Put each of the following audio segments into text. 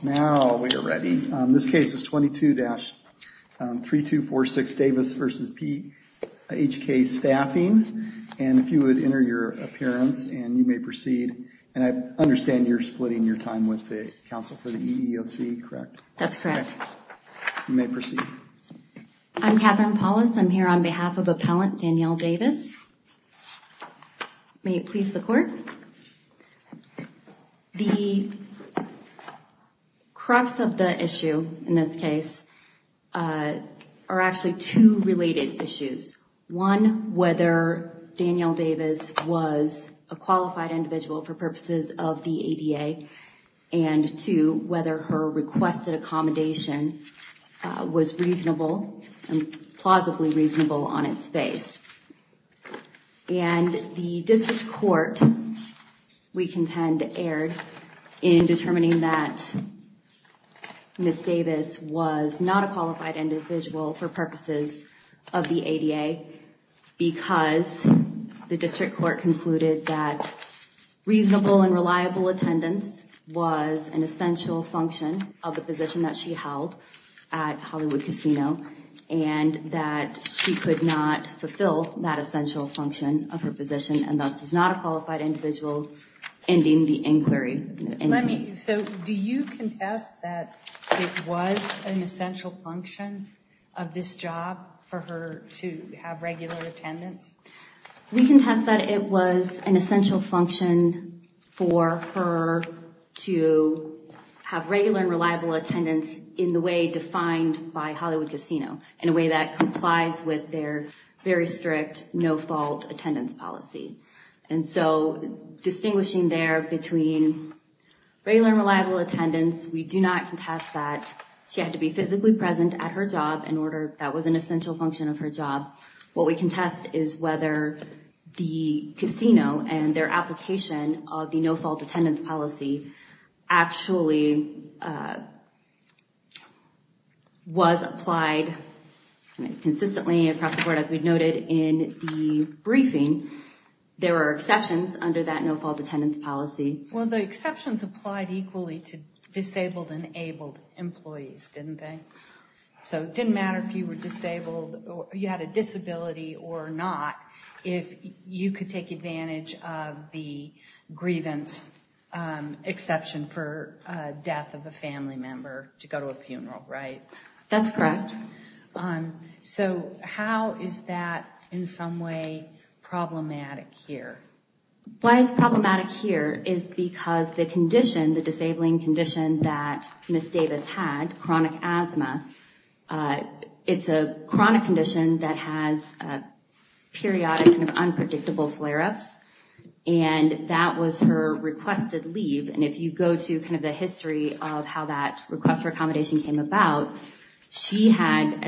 Now we are ready. This case is 22-3246 Davis v. PHK Staffing, and if you would enter your appearance and you may proceed. And I understand you're splitting your time with the Council for the EEOC, correct? That's correct. You may proceed. I'm Catherine Paulus. I'm here on behalf of Appellant Danielle Davis. May it please the Court. The crux of the issue in this case are actually two related issues. One, whether Danielle Davis was a qualified individual for purposes of the ADA, and two, whether her requested accommodation was reasonable, plausibly reasonable on its face. And the District Court, we contend, erred in determining that Ms. Davis was not a qualified individual for purposes of the ADA because the District Court concluded that reasonable and reliable attendance was an essential function of the position that she held at Hollywood Casino, and that she could not fulfill that essential function of her position, and thus was not a qualified individual ending the inquiry. Let me, so do you contest that it was an essential function of this job for her to have regular attendance? We contest that it was an essential function for her to have regular and reliable attendance in the way defined by Hollywood Casino, in a way that complies with their very strict no-fault attendance policy. And so, distinguishing there between regular and reliable attendance, we do not contest that she had to be physically present at her job in order, that was an essential function of her job. What we contest is whether the casino and their application of the no-fault attendance policy actually was applied consistently across the board. As we noted in the briefing, there were exceptions under that no-fault attendance policy. Well, the exceptions applied equally to disabled and abled employees, didn't they? So, it didn't matter if you were disabled or you had a disability or not, if you could take advantage of the grievance exception for death of a family member to go to a funeral, right? That's correct. So, how is that in some way problematic here? Why it's problematic here is because the condition, the disabling condition that Ms. Davis had, chronic asthma, it's a chronic condition that has periodic and unpredictable flare-ups, and that was her requested leave. And if you go to kind of the history of how that request for accommodation came about, she had,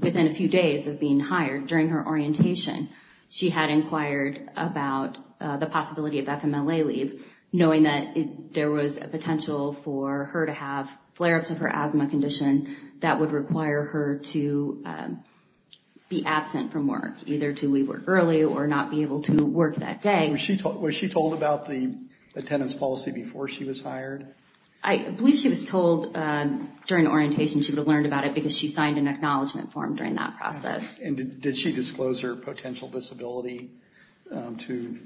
within a few days of being hired, during her orientation, she had inquired about the possibility of FMLA leave, knowing that there was a potential for her to have flare-ups of her asthma condition that would require her to be absent from work, either to leave work early or not be able to work that day. Was she told about the attendance policy before she was hired? I believe she was told during orientation she would have learned about it because she signed an acknowledgement form during that process. And did she disclose her potential disability to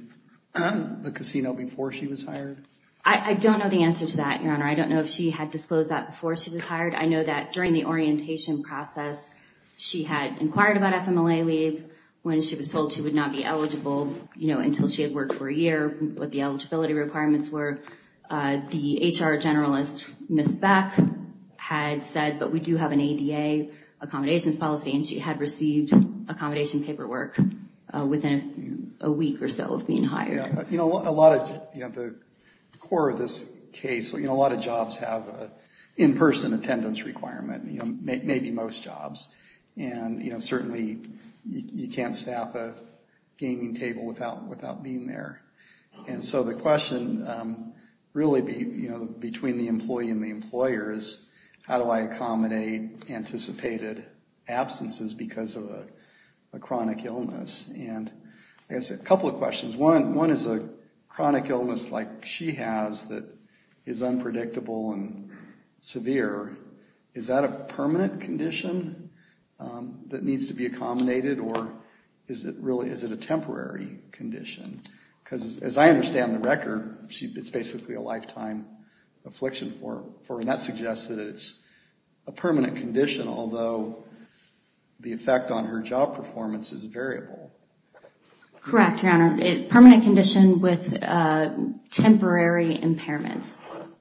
the casino before she was hired? I don't know the answer to that, Your Honor. I don't know if she had disclosed that before she was hired. I know that during the orientation process, she had inquired about FMLA leave when she was told she would not be eligible until she had worked for a year, what the eligibility requirements were. The HR generalist, Ms. Beck, had said, but we do have an ADA accommodations policy, and she had received accommodation paperwork within a week or so of being hired. You know, the core of this case, a lot of jobs have an in-person attendance requirement, maybe most jobs. And, you know, certainly you can't staff a gaming table without being there. And so the question really between the employee and the employer is, how do I accommodate anticipated absences because of a chronic illness? And I guess a couple of questions. One is a chronic illness like she has that is unpredictable and severe, is that a permanent condition that needs to be accommodated? Or is it a temporary condition? Because as I understand the record, it's basically a lifetime affliction for her, and that suggests that it's a permanent condition, although the effect on her job performance is variable. Correct, Your Honor. A permanent condition with temporary impairments,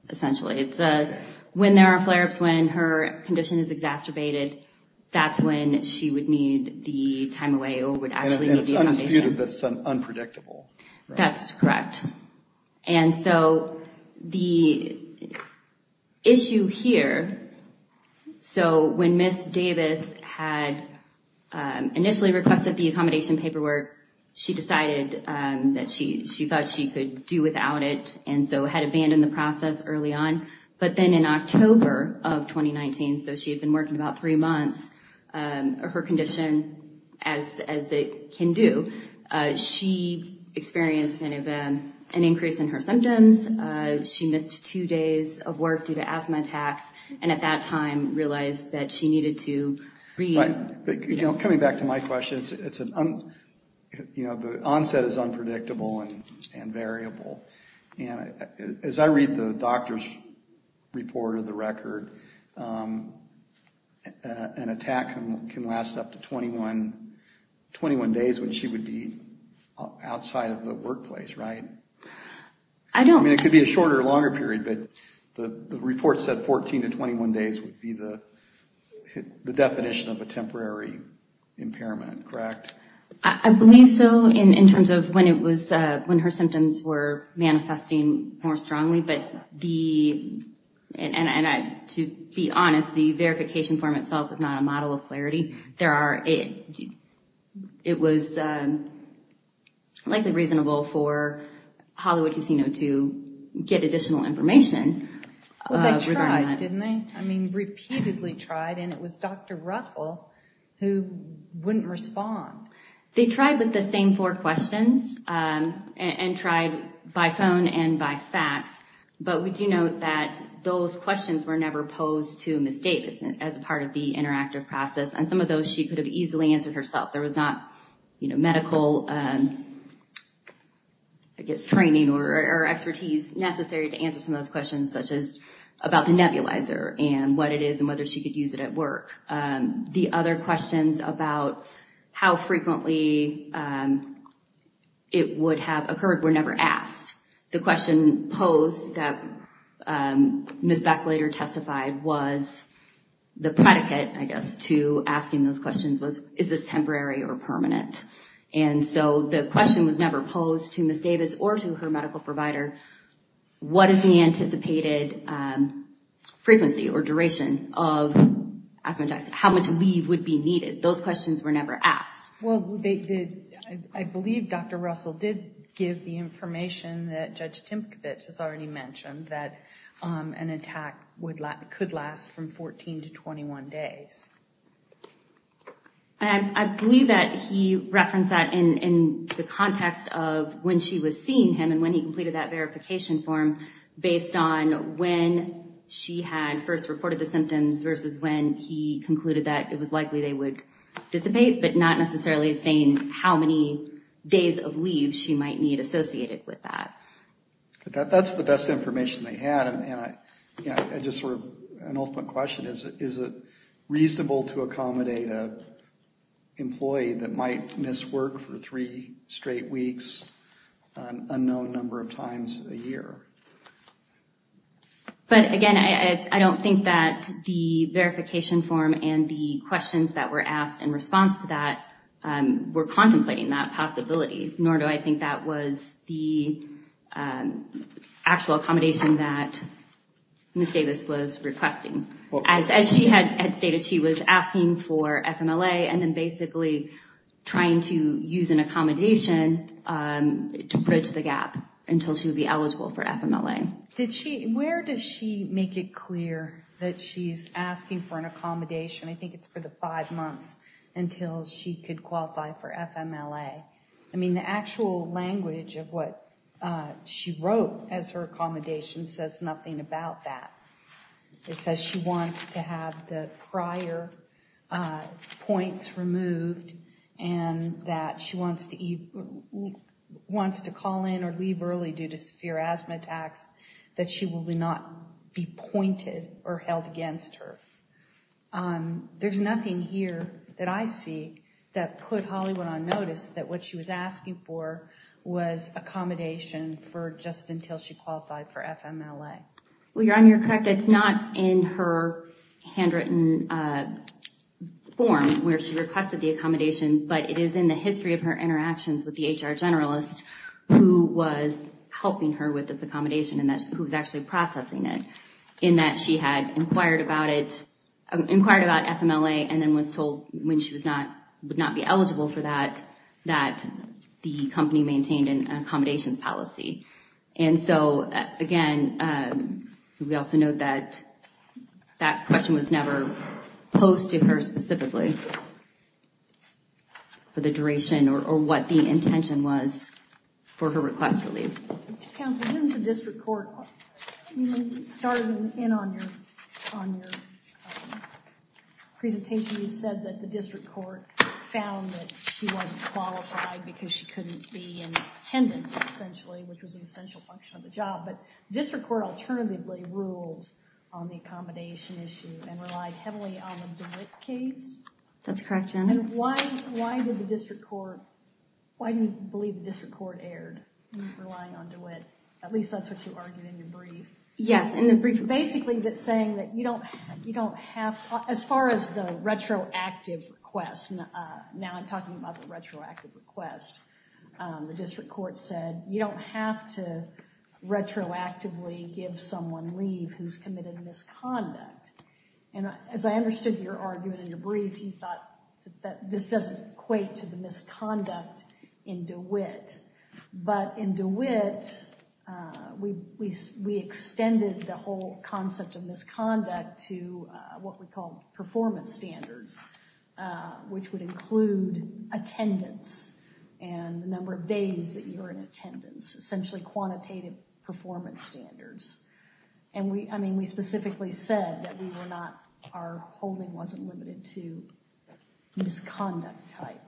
essentially. When there are flare-ups, when her condition is exacerbated, that's when she would need the time away or would actually need the accommodation. And it's undisputed that it's unpredictable. That's correct. And so the issue here, so when Ms. Davis had initially requested the accommodation paperwork, she decided that she thought she could do without it, and so had abandoned the process early on. But then in October of 2019, so she had been working about three months, her condition, as it can do, she experienced an increase in her symptoms. She missed two days of work due to asthma attacks, and at that time realized that she needed to read. Coming back to my question, the onset is unpredictable and variable. As I read the doctor's report or the record, an attack can last up to 21 days when she would be outside of the workplace, right? I mean, it could be a shorter or longer period, but the report said 14 to 21 days would be the definition of a temporary impairment, correct? I believe so in terms of when her symptoms were manifesting more strongly. But to be honest, the verification form itself is not a model of clarity. It was likely reasonable for Hollywood Casino to get additional information. Well, they tried, didn't they? I mean, repeatedly tried, and it was Dr. Russell who wouldn't respond. They tried with the same four questions and tried by phone and by fax, but we do note that those questions were never posed to Ms. Davis as part of the interactive process, and some of those she could have easily answered herself. There was not medical, I guess, training or expertise necessary to answer some of those questions, such as about the nebulizer and what it is and whether she could use it at work. The other questions about how frequently it would have occurred were never asked. The question posed that Ms. Beck later testified was the predicate, I guess, to asking those questions was, is this temporary or permanent? And so the question was never posed to Ms. Davis or to her medical provider, what is the anticipated frequency or duration of asthma attacks, how much leave would be needed? Those questions were never asked. Well, I believe Dr. Russell did give the information that Judge Timpkowitz has already mentioned, that an attack could last from 14 to 21 days. I believe that he referenced that in the context of when she was seeing him and when he completed that verification form based on when she had first reported the symptoms versus when he concluded that it was likely they would dissipate, but not necessarily saying how many days of leave she might need associated with that. But that's the best information they had, and I just sort of, an ultimate question is, is it reasonable to accommodate an employee that might miss work for three straight weeks an unknown number of times a year? But again, I don't think that the verification form and the questions that were asked in response to that were contemplating that possibility, nor do I think that was the actual accommodation that Ms. Davis was requesting. As she had stated, she was asking for FMLA and then basically trying to use an accommodation to bridge the gap until she would be eligible for FMLA. Where does she make it clear that she's asking for an accommodation? I think it's for the five months until she could qualify for FMLA. I mean, the actual language of what she wrote as her accommodation says nothing about that. It says she wants to have the prior points removed and that she wants to call in or leave early due to severe asthma attacks, that she will not be pointed or held against her. There's nothing here that I see that put Hollywood on notice that what she was asking for was accommodation for just until she qualified for FMLA. Well, you're correct. It's not in her handwritten form where she requested the accommodation, but it is in the history of her interactions with the HR generalist who was helping her with this accommodation and who was actually processing it, in that she had inquired about FMLA and then was told when she would not be eligible for that, that the company maintained an accommodations policy. And so, again, we also note that that question was never posted to her specifically for the duration or what the intention was for her request to leave. Counsel, when the district court started in on your presentation, you said that the district court found that she wasn't qualified because she couldn't be in attendance, essentially, which was an essential function of the job. But the district court alternatively ruled on the accommodation issue and relied heavily on the DeWitt case. That's correct, Jen. And why did the district court, why do you believe the district court erred in relying on DeWitt? At least that's what you argued in your brief. Yes, in the brief. Basically, it's saying that you don't have, as far as the retroactive request, now I'm talking about the retroactive request, the district court said you don't have to retroactively give someone leave who's committed a misconduct. And as I understood your argument in your brief, you thought that this doesn't equate to the misconduct in DeWitt. But in DeWitt, we extended the whole concept of misconduct to what we call performance standards, which would include attendance and the number of days that you were in attendance, essentially quantitative performance standards. And we specifically said that our holding wasn't limited to misconduct type.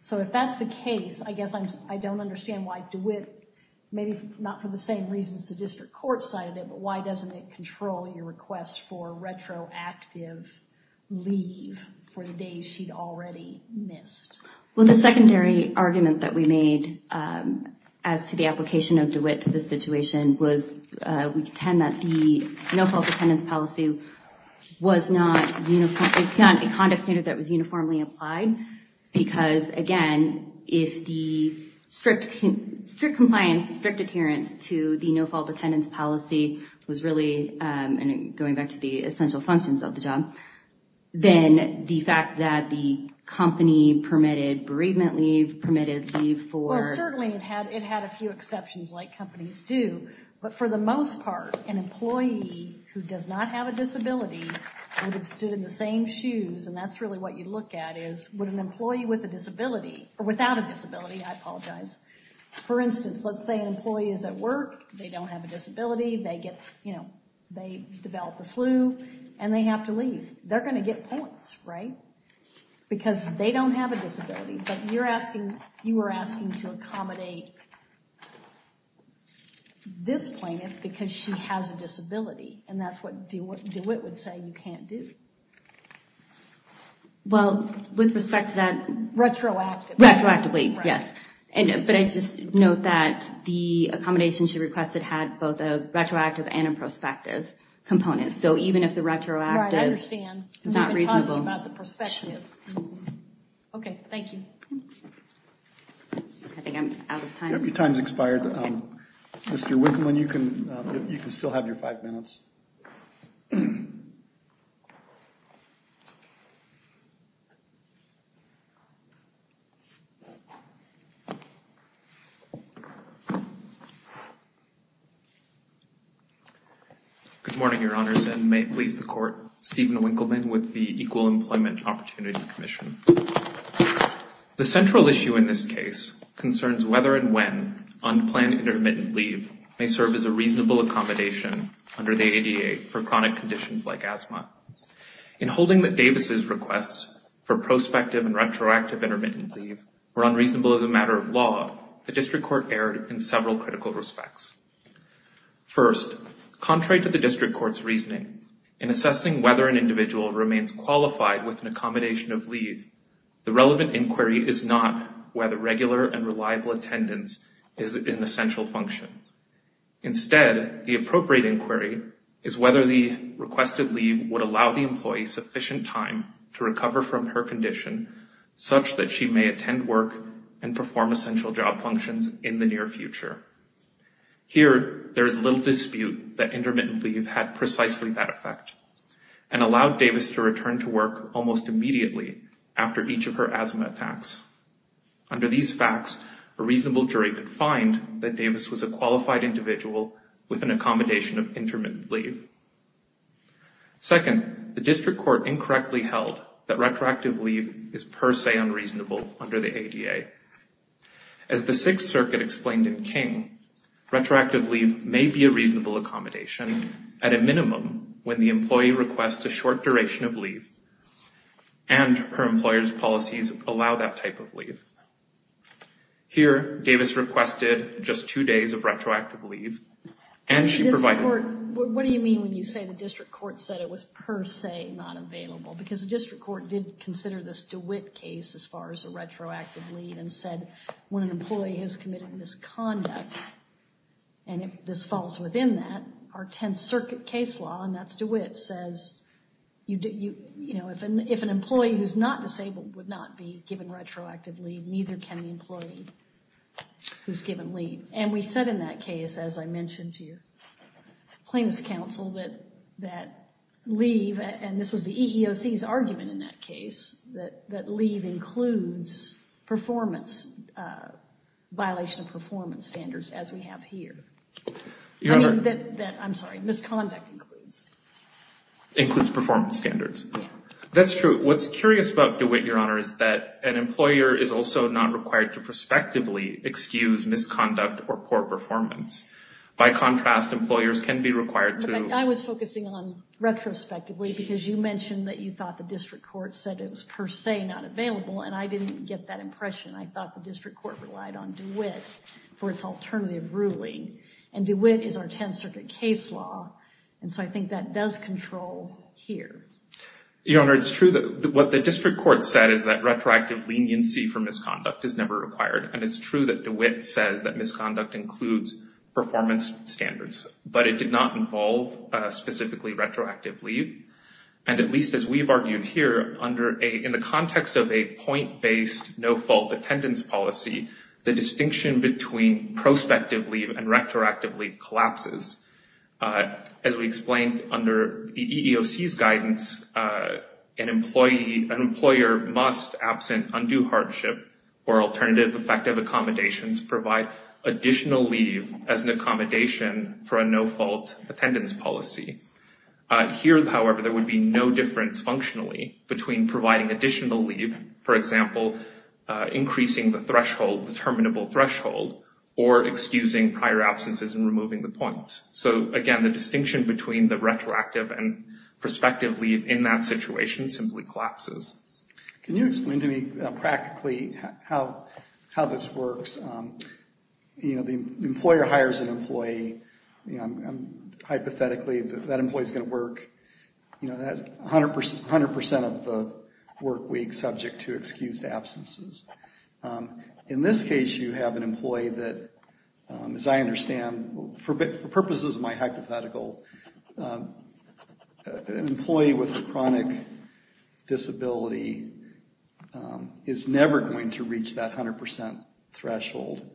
So if that's the case, I guess I don't understand why DeWitt, maybe not for the same reasons the district court cited it, but why doesn't it control your request for retroactive leave for the days she'd already missed? Well, the secondary argument that we made as to the application of DeWitt to this situation was we contend that the no-fault attendance policy was not a conduct standard that was uniformly applied. Because, again, if the strict compliance, strict adherence to the no-fault attendance policy was really going back to the essential functions of the job, then the fact that the company permitted bereavement leave, permitted leave for... Well, certainly it had a few exceptions like companies do. But for the most part, an employee who does not have a disability would have stood in the same shoes. And that's really what you look at is would an employee with a disability, or without a disability, I apologize. For instance, let's say an employee is at work, they don't have a disability, they develop the flu, and they have to leave. They're going to get points, right? Because they don't have a disability. But you were asking to accommodate this plaintiff because she has a disability, and that's what DeWitt would say you can't do. Well, with respect to that... Retroactively. Retroactively, yes. But I just note that the accommodation she requested had both a retroactive and a prospective component. So even if the retroactive... Right, I understand. ...is not reasonable. We've been talking about the prospective. Okay, thank you. I think I'm out of time. Your time's expired. Mr. Wickman, you can still have your five minutes. Thank you. Good morning, Your Honors, and may it please the Court, Stephen Winkleman with the Equal Employment Opportunity Commission. The central issue in this case concerns whether and when unplanned intermittent leave may serve as a reasonable accommodation under the ADA for chronic conditions like asthma. In holding that Davis' requests for prospective and retroactive intermittent leave were unreasonable as a matter of law, the District Court erred in several critical respects. First, contrary to the District Court's reasoning, in assessing whether an individual remains qualified with an accommodation of leave, the relevant inquiry is not whether regular and reliable attendance is an essential function. Instead, the appropriate inquiry is whether the requested leave would allow the employee sufficient time to recover from her condition such that she may attend work and perform essential job functions in the near future. Here, there is little dispute that intermittent leave had precisely that effect and allowed Davis to return to work almost immediately after each of her asthma attacks. Under these facts, a reasonable jury could find that Davis was a qualified individual with an accommodation of intermittent leave. Second, the District Court incorrectly held that retroactive leave is per se unreasonable under the ADA. As the Sixth Circuit explained in King, retroactive leave may be a reasonable accommodation at a minimum when the employee requests a short duration of leave and her employer's policies allow that type of leave. Here, Davis requested just two days of retroactive leave and she provided... What do you mean when you say the District Court said it was per se not available? Because the District Court did consider this DeWitt case as far as a retroactive leave and said when an employee has committed misconduct and this falls within that, our Tenth Circuit case law, and that's DeWitt, says if an employee who's not disabled would not be given retroactive leave, neither can the employee who's given leave. And we said in that case, as I mentioned to you, claims counsel that leave, and this was the EEOC's argument in that case, that leave includes performance, violation of performance standards as we have here. I'm sorry, misconduct includes. Includes performance standards. That's true. What's curious about DeWitt, Your Honor, is that an employer is also not required to prospectively excuse misconduct or poor performance. By contrast, employers can be required to. But I was focusing on retrospectively because you mentioned that you thought the District Court said it was per se not available and I didn't get that impression. I thought the District Court relied on DeWitt for its alternative ruling and DeWitt is our Tenth Circuit case law and so I think that does control here. Your Honor, it's true that what the District Court said is that retroactive leniency for misconduct is never required and it's true that DeWitt says that misconduct includes performance standards, but it did not involve specifically retroactive leave and at least as we've argued here, in the context of a point-based no-fault attendance policy, the distinction between prospective leave and retroactive leave collapses. As we explained under the EEOC's guidance, an employer must, absent undue hardship or alternative effective accommodations, provide additional leave as an accommodation for a no-fault attendance policy. Here, however, there would be no difference functionally between providing additional leave, for example, increasing the threshold, the terminable threshold, or excusing prior absences and removing the points. So again, the distinction between the retroactive and prospective leave in that situation simply collapses. Can you explain to me practically how this works The employer hires an employee. Hypothetically, that employee is going to work 100% of the work week subject to excused absences. In this case, you have an employee that, as I understand, for purposes of my hypothetical, an employee with a chronic disability is never going to reach that 100% threshold.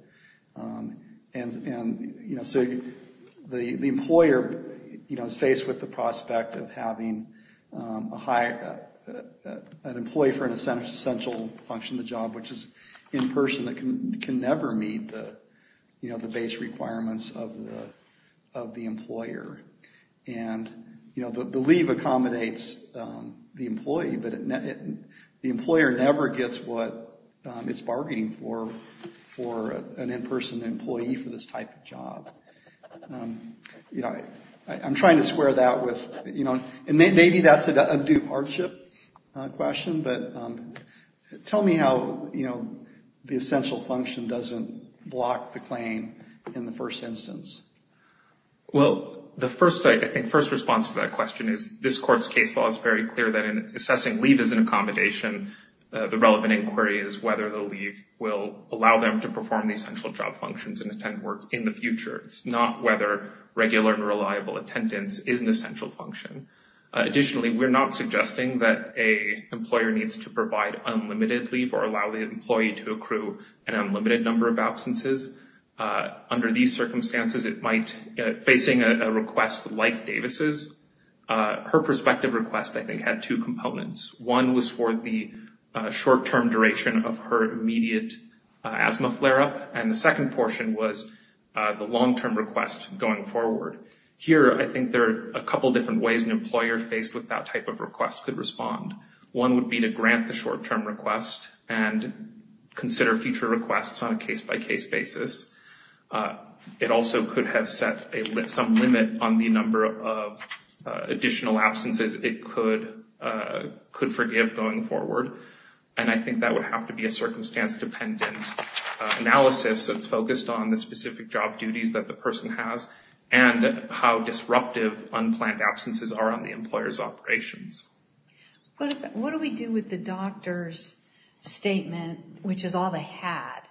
The employer is faced with the prospect of having an employee for an essential function of the job, which is in person, that can never meet the base requirements of the employer. The leave accommodates the employee, but the employer never gets what it's bargaining for for an in-person employee for this type of job. I'm trying to square that with, and maybe that's a due hardship question, but tell me how the essential function doesn't block the claim in the first instance. Well, the first response to that question is this court's case law is very clear that when assessing leave as an accommodation, the relevant inquiry is whether the leave will allow them to perform the essential job functions and attend work in the future. It's not whether regular and reliable attendance is an essential function. Additionally, we're not suggesting that a employer needs to provide unlimited leave or allow the employee to accrue an unlimited number of absences. Under these circumstances, it might, facing a request like Davis's, her prospective request, I think, had two components. One was for the short-term duration of her immediate asthma flare-up, and the second portion was the long-term request going forward. Here, I think there are a couple different ways an employer faced with that type of request could respond. One would be to grant the short-term request and consider future requests on a case-by-case basis. It also could have set some limit on the number of additional absences it could forgive going forward, and I think that would have to be a circumstance-dependent analysis that's focused on the specific job duties that the person has and how disruptive unplanned absences are on the employer's operations. What do we do with the doctor's statement, which is all they had,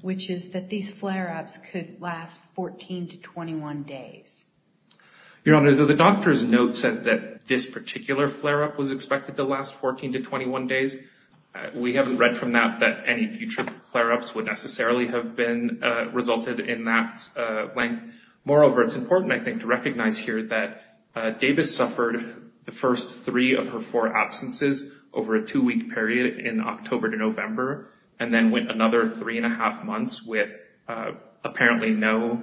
which is that these flare-ups could last 14 to 21 days? Your Honor, the doctor's note said that this particular flare-up was expected to last 14 to 21 days. We haven't read from that that any future flare-ups would necessarily have resulted in that length. Moreover, it's important, I think, to recognize here that Davis suffered the first three of her four absences over a two-week period in October to November and then went another three-and-a-half months with apparently no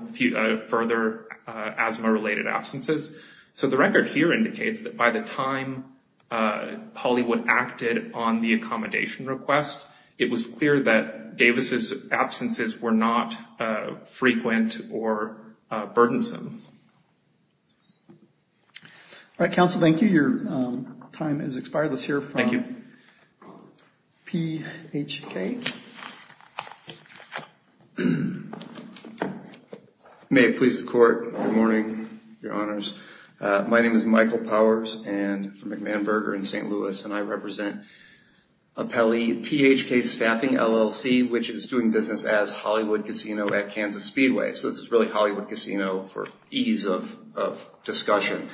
further asthma-related absences. So the record here indicates that by the time Hollywood acted on the accommodation request, it was clear that Davis's absences were not frequent or burdensome. All right, counsel, thank you. Your time has expired. Let's hear from PHK. May it please the Court. Good morning, Your Honors. My name is Michael Powers. I'm from McManberger in St. Louis, and I represent Appellee PHK Staffing, LLC, which is doing business as Hollywood Casino at Kansas Speedway. So this is really Hollywood Casino for ease of discussion.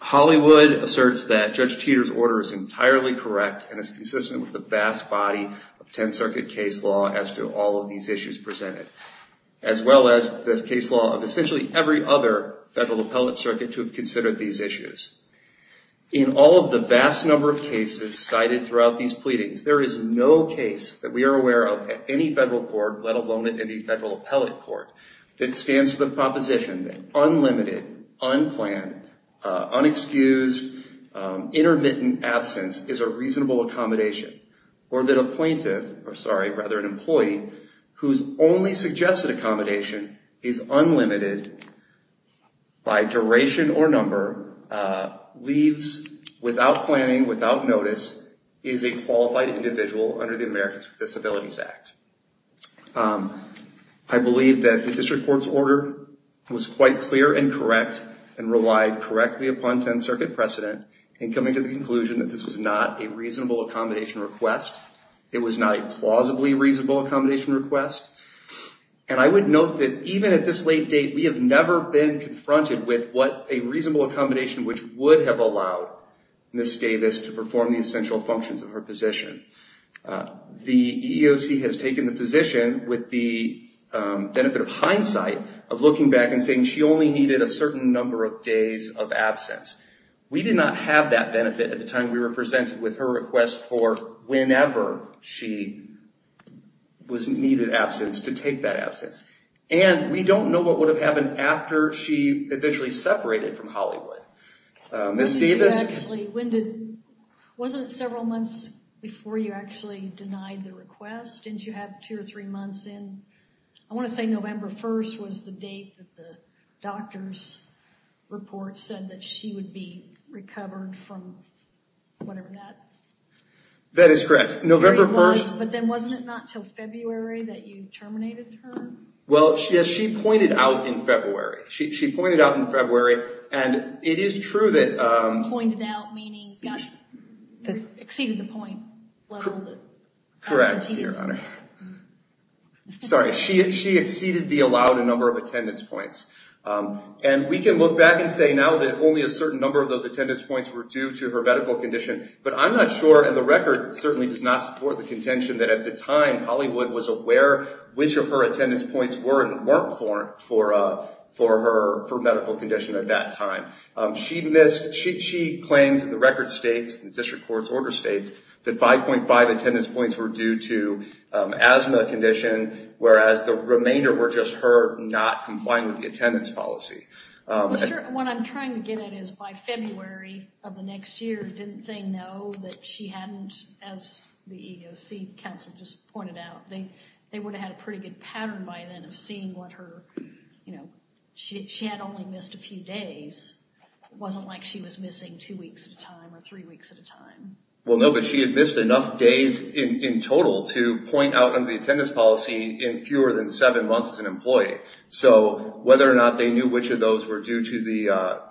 Hollywood asserts that Judge Teeter's order is entirely correct and is consistent with the vast body of Tenth Circuit case law as to all of these issues presented, as well as the case law of essentially every other federal appellate circuit to have considered these issues. In all of the vast number of cases cited throughout these pleadings, there is no case that we are aware of at any federal court, let alone at any federal appellate court, that stands for the proposition that unlimited, unplanned, unexcused, intermittent absence is a reasonable accommodation or that a plaintiff, or sorry, rather an employee whose only suggested accommodation is unlimited by duration or number leaves without planning, without notice, is a qualified individual under the Americans with Disabilities Act. I believe that the District Court's order was quite clear and correct and relied correctly upon Tenth Circuit precedent in coming to the conclusion that this was not a reasonable accommodation request. It was not a plausibly reasonable accommodation request. And I would note that even at this late date, we have never been confronted with what a reasonable accommodation which would have allowed Ms. Davis to perform the essential functions of her position. The EEOC has taken the position with the benefit of hindsight of looking back and saying she only needed a certain number of days of absence. We did not have that benefit at the time we were presented with her request for whenever she was needed absence to take that absence. And we don't know what would have happened after she eventually separated from Hollywood. Ms. Davis... Wasn't it several months before you actually denied the request? Didn't you have two or three months in? I want to say November 1st was the date that the doctor's report said that she would be recovered from whatever that... That is correct. November 1st... But then wasn't it not until February that you terminated her? Well, she pointed out in February. She pointed out in February and it is true that... Pointed out meaning exceeded the point level... Correct, Your Honor. Sorry. She exceeded the allowed number of attendance points. We know that only a certain number of those attendance points were due to her medical condition. But I'm not sure and the record certainly does not support the contention that at the time Hollywood was aware which of her attendance points weren't for her medical condition at that time. She missed... She claims the record states, the district court's order states that 5.5 attendance points were due to asthma condition whereas the remainder what I would get at is by February of the next year didn't they know that she hadn't as the EEOC counsel just pointed out they would have had a pretty good pattern by then of seeing what her... She had only missed a few days. It wasn't like she was missing two weeks at a time or three weeks at a time. Well, no, but she had missed enough days in total to point out in the attendance policy in fewer than seven months whether she had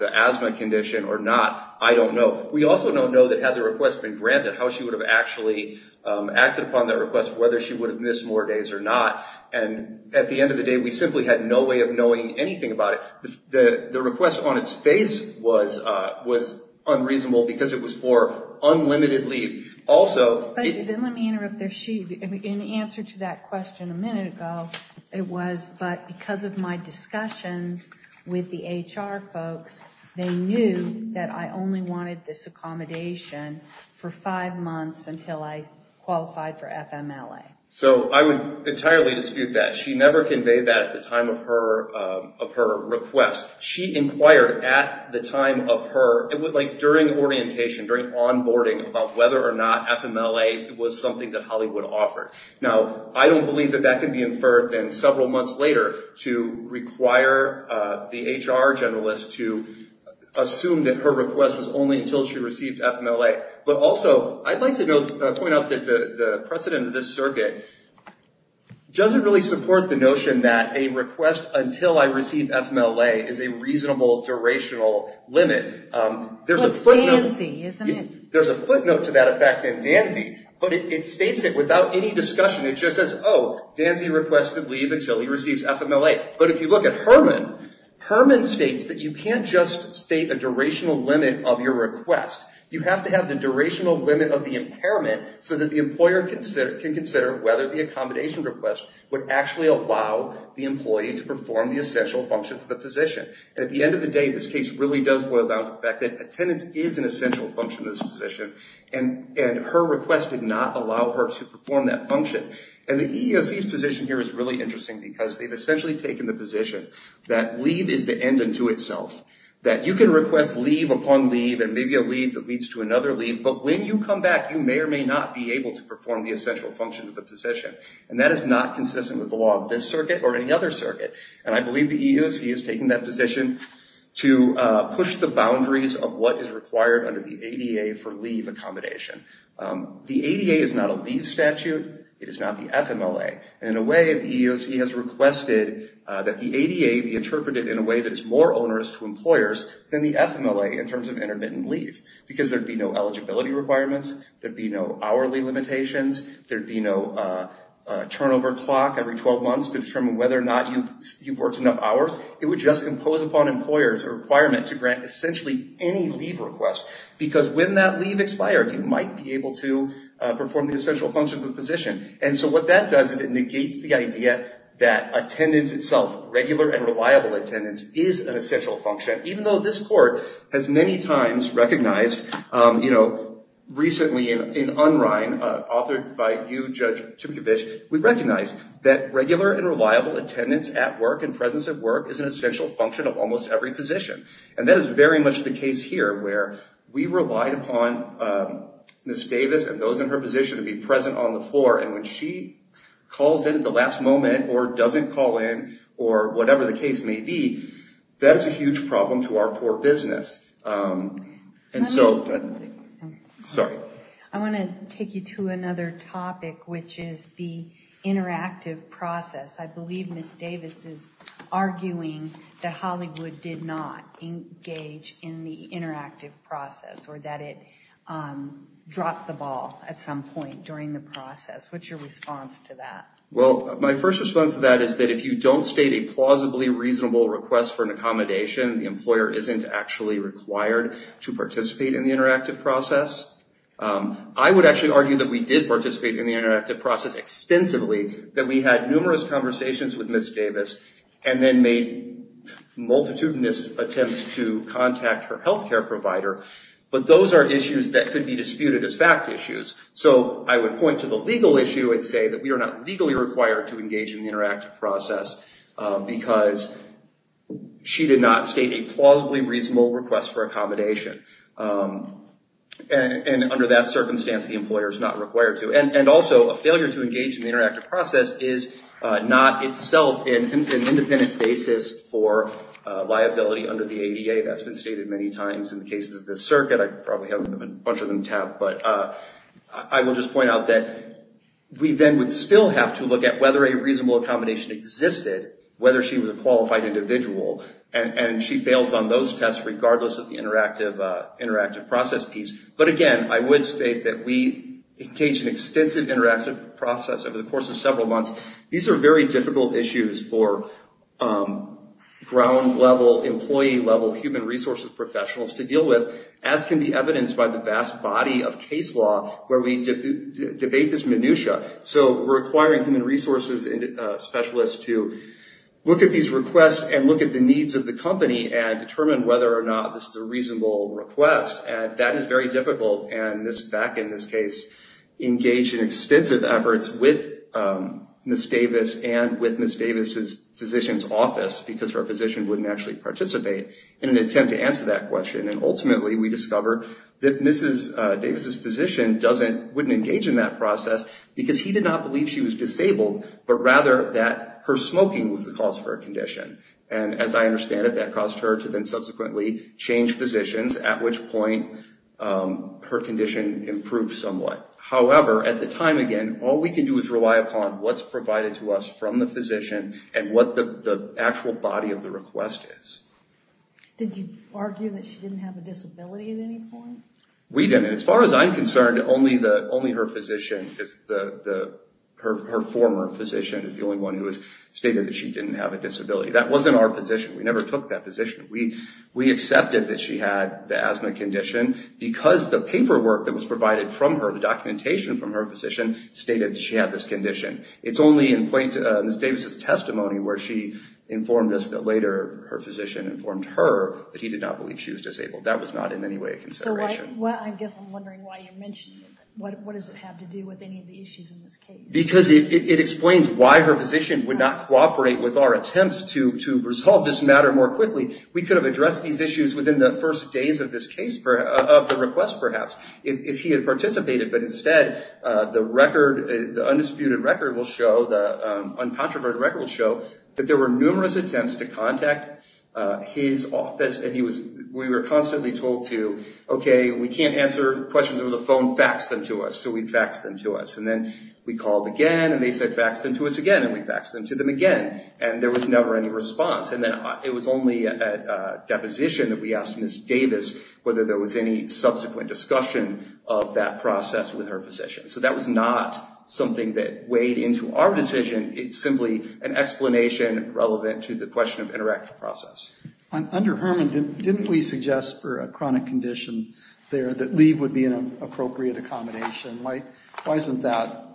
an asthma condition or not, I don't know. We also don't know that had the request been granted how she would have actually acted upon that request whether she would have missed more days or not. And at the end of the day we simply had no way of knowing anything about it. The request on its face was unreasonable because it was for unlimitedly also... I knew that I only wanted this accommodation for five months until I qualified for FMLA. So I would entirely dispute that. She never conveyed that at the time of her request. She inquired at the time of her... It was like during orientation, during onboarding about whether or not FMLA was something that Hollywood offered. Now, I don't believe that that can be inferred then several months later assuming that her request was only until she received FMLA. But also, I'd like to point out that the precedent of this circuit doesn't really support the notion that a request until I receive FMLA is a reasonable durational limit. There's a footnote... There's a footnote to that effect in Danzey, but it states it without any discussion. It just says, oh, Danzey requested leave until he receives FMLA. But if you look at Herman, you can't make a durational limit of your request. You have to have the durational limit of the impairment so that the employer can consider whether the accommodation request would actually allow the employee to perform the essential functions of the position. At the end of the day, this case really does boil down to the fact that attendance is an essential function of this position, and her request did not allow her to request leave upon leave and maybe a leave that leads to another leave. But when you come back, you may or may not be able to perform the essential functions of the position, and that is not consistent with the law of this circuit or any other circuit. And I believe the EEOC has taken that position to push the boundaries of what is required under the ADA for leave in terms of intermittent leave because there would be no eligibility requirements, there would be no hourly limitations, there would be no turnover clock every 12 months to determine whether or not you've worked enough hours. It would just impose upon employers a requirement to grant essentially any leave request because when that leave expired, you might be able to perform the essential functions of the position. And so what that does is it negates the idea that the EEOC has many times recognized, you know, recently in UNRINE, authored by you, Judge Chipkovich, we recognize that regular and reliable attendance at work and presence at work is an essential function of almost every position. And that is very much the case here where we relied upon Ms. Davis and those in her position to be present on the floor, and when she calls in at the last moment and says, and so, sorry. I want to take you to another topic which is the interactive process. I believe Ms. Davis is arguing that Hollywood did not engage in the interactive process or that it dropped the ball at some point during the process. What's your response to that? Well, my first response to that is that if you don't state a plausibly reasonable request for Ms. Davis to be required to participate in the interactive process, I would actually argue that we did participate in the interactive process extensively, that we had numerous conversations with Ms. Davis and then made multitudinous attempts to contact her healthcare provider, but those are issues that could be disputed as fact issues. So I would point to the legal issue and say that we are not legally required to engage in the interactive process because she did not state a plausibly reasonable request for accommodation. And under that circumstance, the employer is not required to. And also, a failure to engage in the interactive process is not itself an independent basis for liability under the ADA. That's been stated many times in the cases of the circuit. I probably have a bunch of them tapped, but I will just point out that we then would still have to look at whether a reasonable accommodation existed, whether she was a qualified individual, whether she had fails on those tests regardless of the interactive process piece. But again, I would state that we engaged in extensive interactive process over the course of several months. These are very difficult issues for ground-level, employee-level human resources professionals to deal with, as can be evidenced by the vast body of case law where we debate this minutia. So we're requiring human resources specialists to look at these requests and look at the needs of the company and determine whether or not this is a reasonable request. And that is very difficult. And Ms. Beck, in this case, engaged in extensive efforts with Ms. Davis and with Ms. Davis's physician's office because her physician wouldn't actually participate in an attempt to answer that question. And ultimately, we discovered that Ms. Davis's physician wouldn't engage in that process because he did not believe that she had a disability. And as I understand it, that caused her to then subsequently change physicians, at which point her condition improved somewhat. However, at the time, again, all we can do is rely upon what's provided to us from the physician and what the actual body of the request is. Did you argue that she didn't have a disability at any point? We didn't. As far as I'm concerned, that was not in our position. We never took that position. We accepted that she had the asthma condition because the paperwork that was provided from her, the documentation from her physician, stated that she had this condition. It's only in Ms. Davis's testimony where she informed us that later her physician informed her that he did not believe she was disabled. That was not in any way a consideration. I guess I'm wondering why you mention it. What does it have to do with any of the issues in this case? Because it explains why her physician would not cooperate with our attempts to resolve this matter more quickly. We could have addressed these issues within the first days of the request, perhaps, if he had participated. But instead, the undisputed record will show, the uncontroverted record will show, that there were numerous attempts to contact his office. We were constantly told to, OK, we can't answer questions over the phone, fax them to us. So we faxed them to us. And then we called again, and they said, fax them to us again. And we faxed them to them again. And there was never any response. And then it was only at deposition that we asked Ms. Davis whether there was any subsequent discussion of that process with her physician. So that was not something that weighed into our decision. It's simply an explanation relevant to the question of interactive process. Under Herman, didn't we suggest for a chronic condition there, that leave would be an appropriate accommodation? Why doesn't that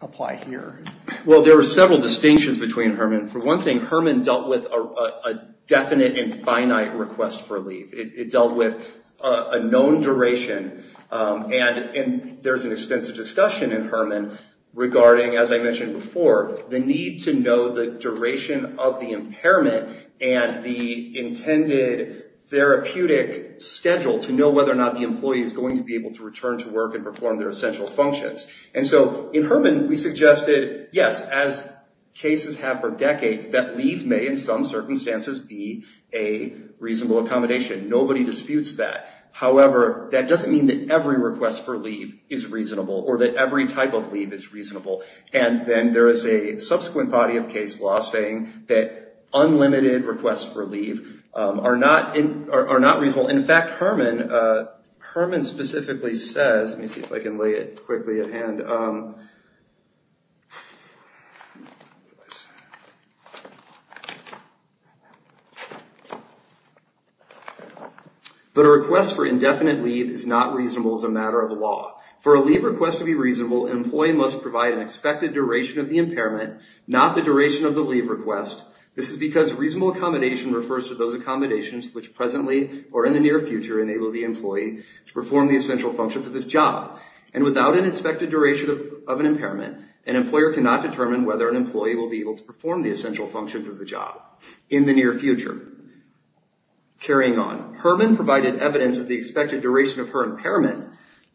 apply here? Well, there were several distinctions between Herman. For one thing, Herman dealt with a definite and finite request for leave. It dealt with a known duration. And there's an extensive discussion in Herman regarding, as I mentioned before, the need to know the duration of the impairment and the intended therapeutic schedule to know whether or not the employee is going to be able to return to work and perform their essential functions. And so, in Herman, we suggested, yes, as cases have for decades, that leave may, in some circumstances, be a reasonable accommodation. Nobody disputes that. However, that doesn't mean that every request for leave is reasonable or that every type of leave is reasonable. And then there is a subsequent body of case law saying that unlimited requests for leave are not reasonable. In fact, Herman specifically says, let me see if I can lay it quickly at hand. But a request for indefinite leave is not reasonable as a matter of law. For a leave request to be reasonable, an employee must provide an expected duration of the impairment, not the duration of the leave request. This is because reasonable accommodation refers to those accommodations which presently or in the near future enable the employee to perform the essential functions of his job. And without an expected duration of an impairment, an employer cannot determine whether an employee will be able to perform the essential functions of the job in the near future. Carrying on, Herman provided evidence of the expected duration of her impairment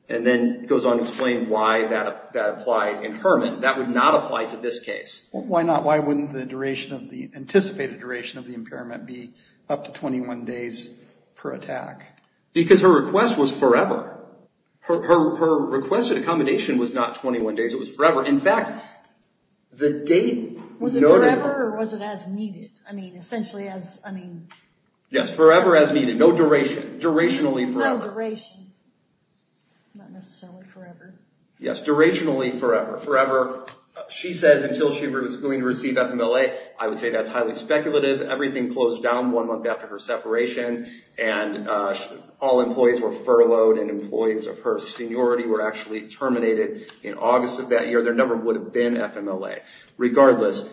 and then goes on to explain why that applied in Herman. That would not apply to this case. Why not? Why wouldn't the duration of the, anticipated duration of the impairment be up to 21 days per attack? Because her request was forever. Her requested accommodation was not 21 days. It was forever. In fact, the date noted Was it forever or was it as needed? I mean, essentially as, I mean. Yes, forever as needed. No duration. Durationally forever. It's not a duration. Not necessarily forever. Yes, durationally forever. Forever. She says until she was going to receive FMLA, I would say that's highly speculative. Everything closed down one month after her separation and all employees were furloughed and employees of her seniority were actually terminated in August of that year. There never would have been FMLA. Regardless,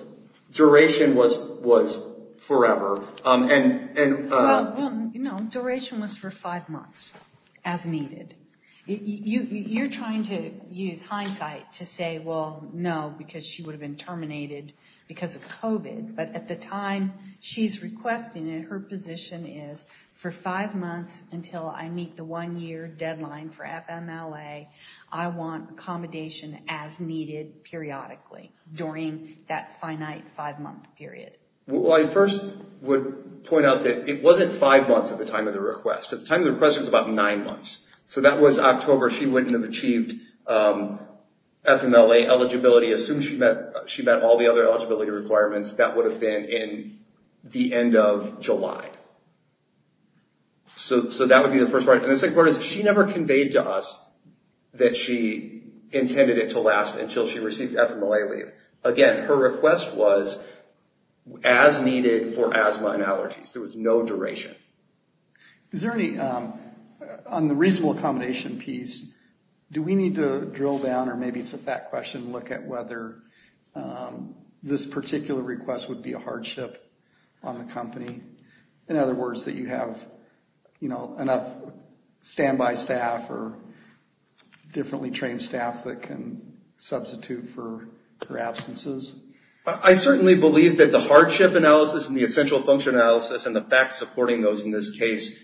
duration was, was forever. And, and. Well, you know, duration was for five months as needed. You, you're trying to use hindsight to say, well, no, because she would have been terminated because of COVID. But, at the time she's requesting it, her position is for five months until I meet the one-year deadline for FMLA, I want accommodation as needed periodically during that finite five-month period. Well, I first would point out that it wasn't five months at the time of the request. At the time of the request, it was about nine months. So, that was October. She wouldn't have achieved FMLA eligibility as soon as she met, she met all the other eligibility requirements that would have been in the end of July. So, so that would be the first part. And the second part is she never conveyed to us that she intended it to last until she received FMLA leave. Again, her request was as needed for asthma and allergies. There was no duration. Is there any, on the reasonable accommodation piece, do we need to drill down, or maybe it's a fact question, look at whether this particular request would be a hardship on the company? In other words, that you have, you know, enough standby staff or differently trained staff that can substitute for her absences? I certainly believe that the hardship analysis and the essential function analysis and the facts supporting those in this case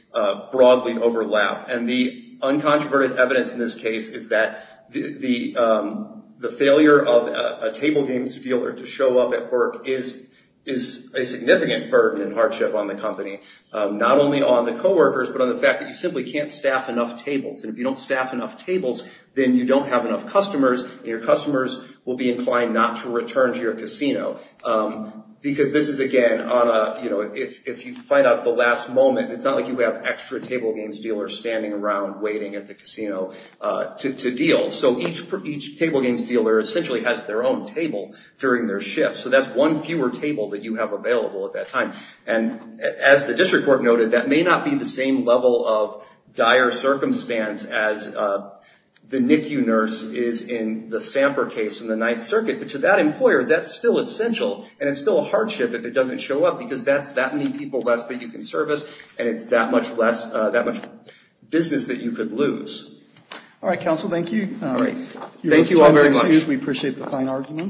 broadly overlap. And the uncontroverted evidence in this case is that the failure of a table games dealer to show up at work is a significant burden and hardship on the company. Not only on the co-workers, but on the fact that you simply can't staff enough tables. And if you don't staff enough then you don't have enough customers, and your customers will be inclined not to return to your casino. Because this is, again, on a, you know, the company actually has their own table during their shift. So that's one fewer table that you have available at that time. And as the district court noted, that may not be the same level of dire circumstance as the NICU nurse is in the Samper case in the Ninth Circuit. But to that employer, that's still essential, and it's still an issue. Thank you very much. We appreciate the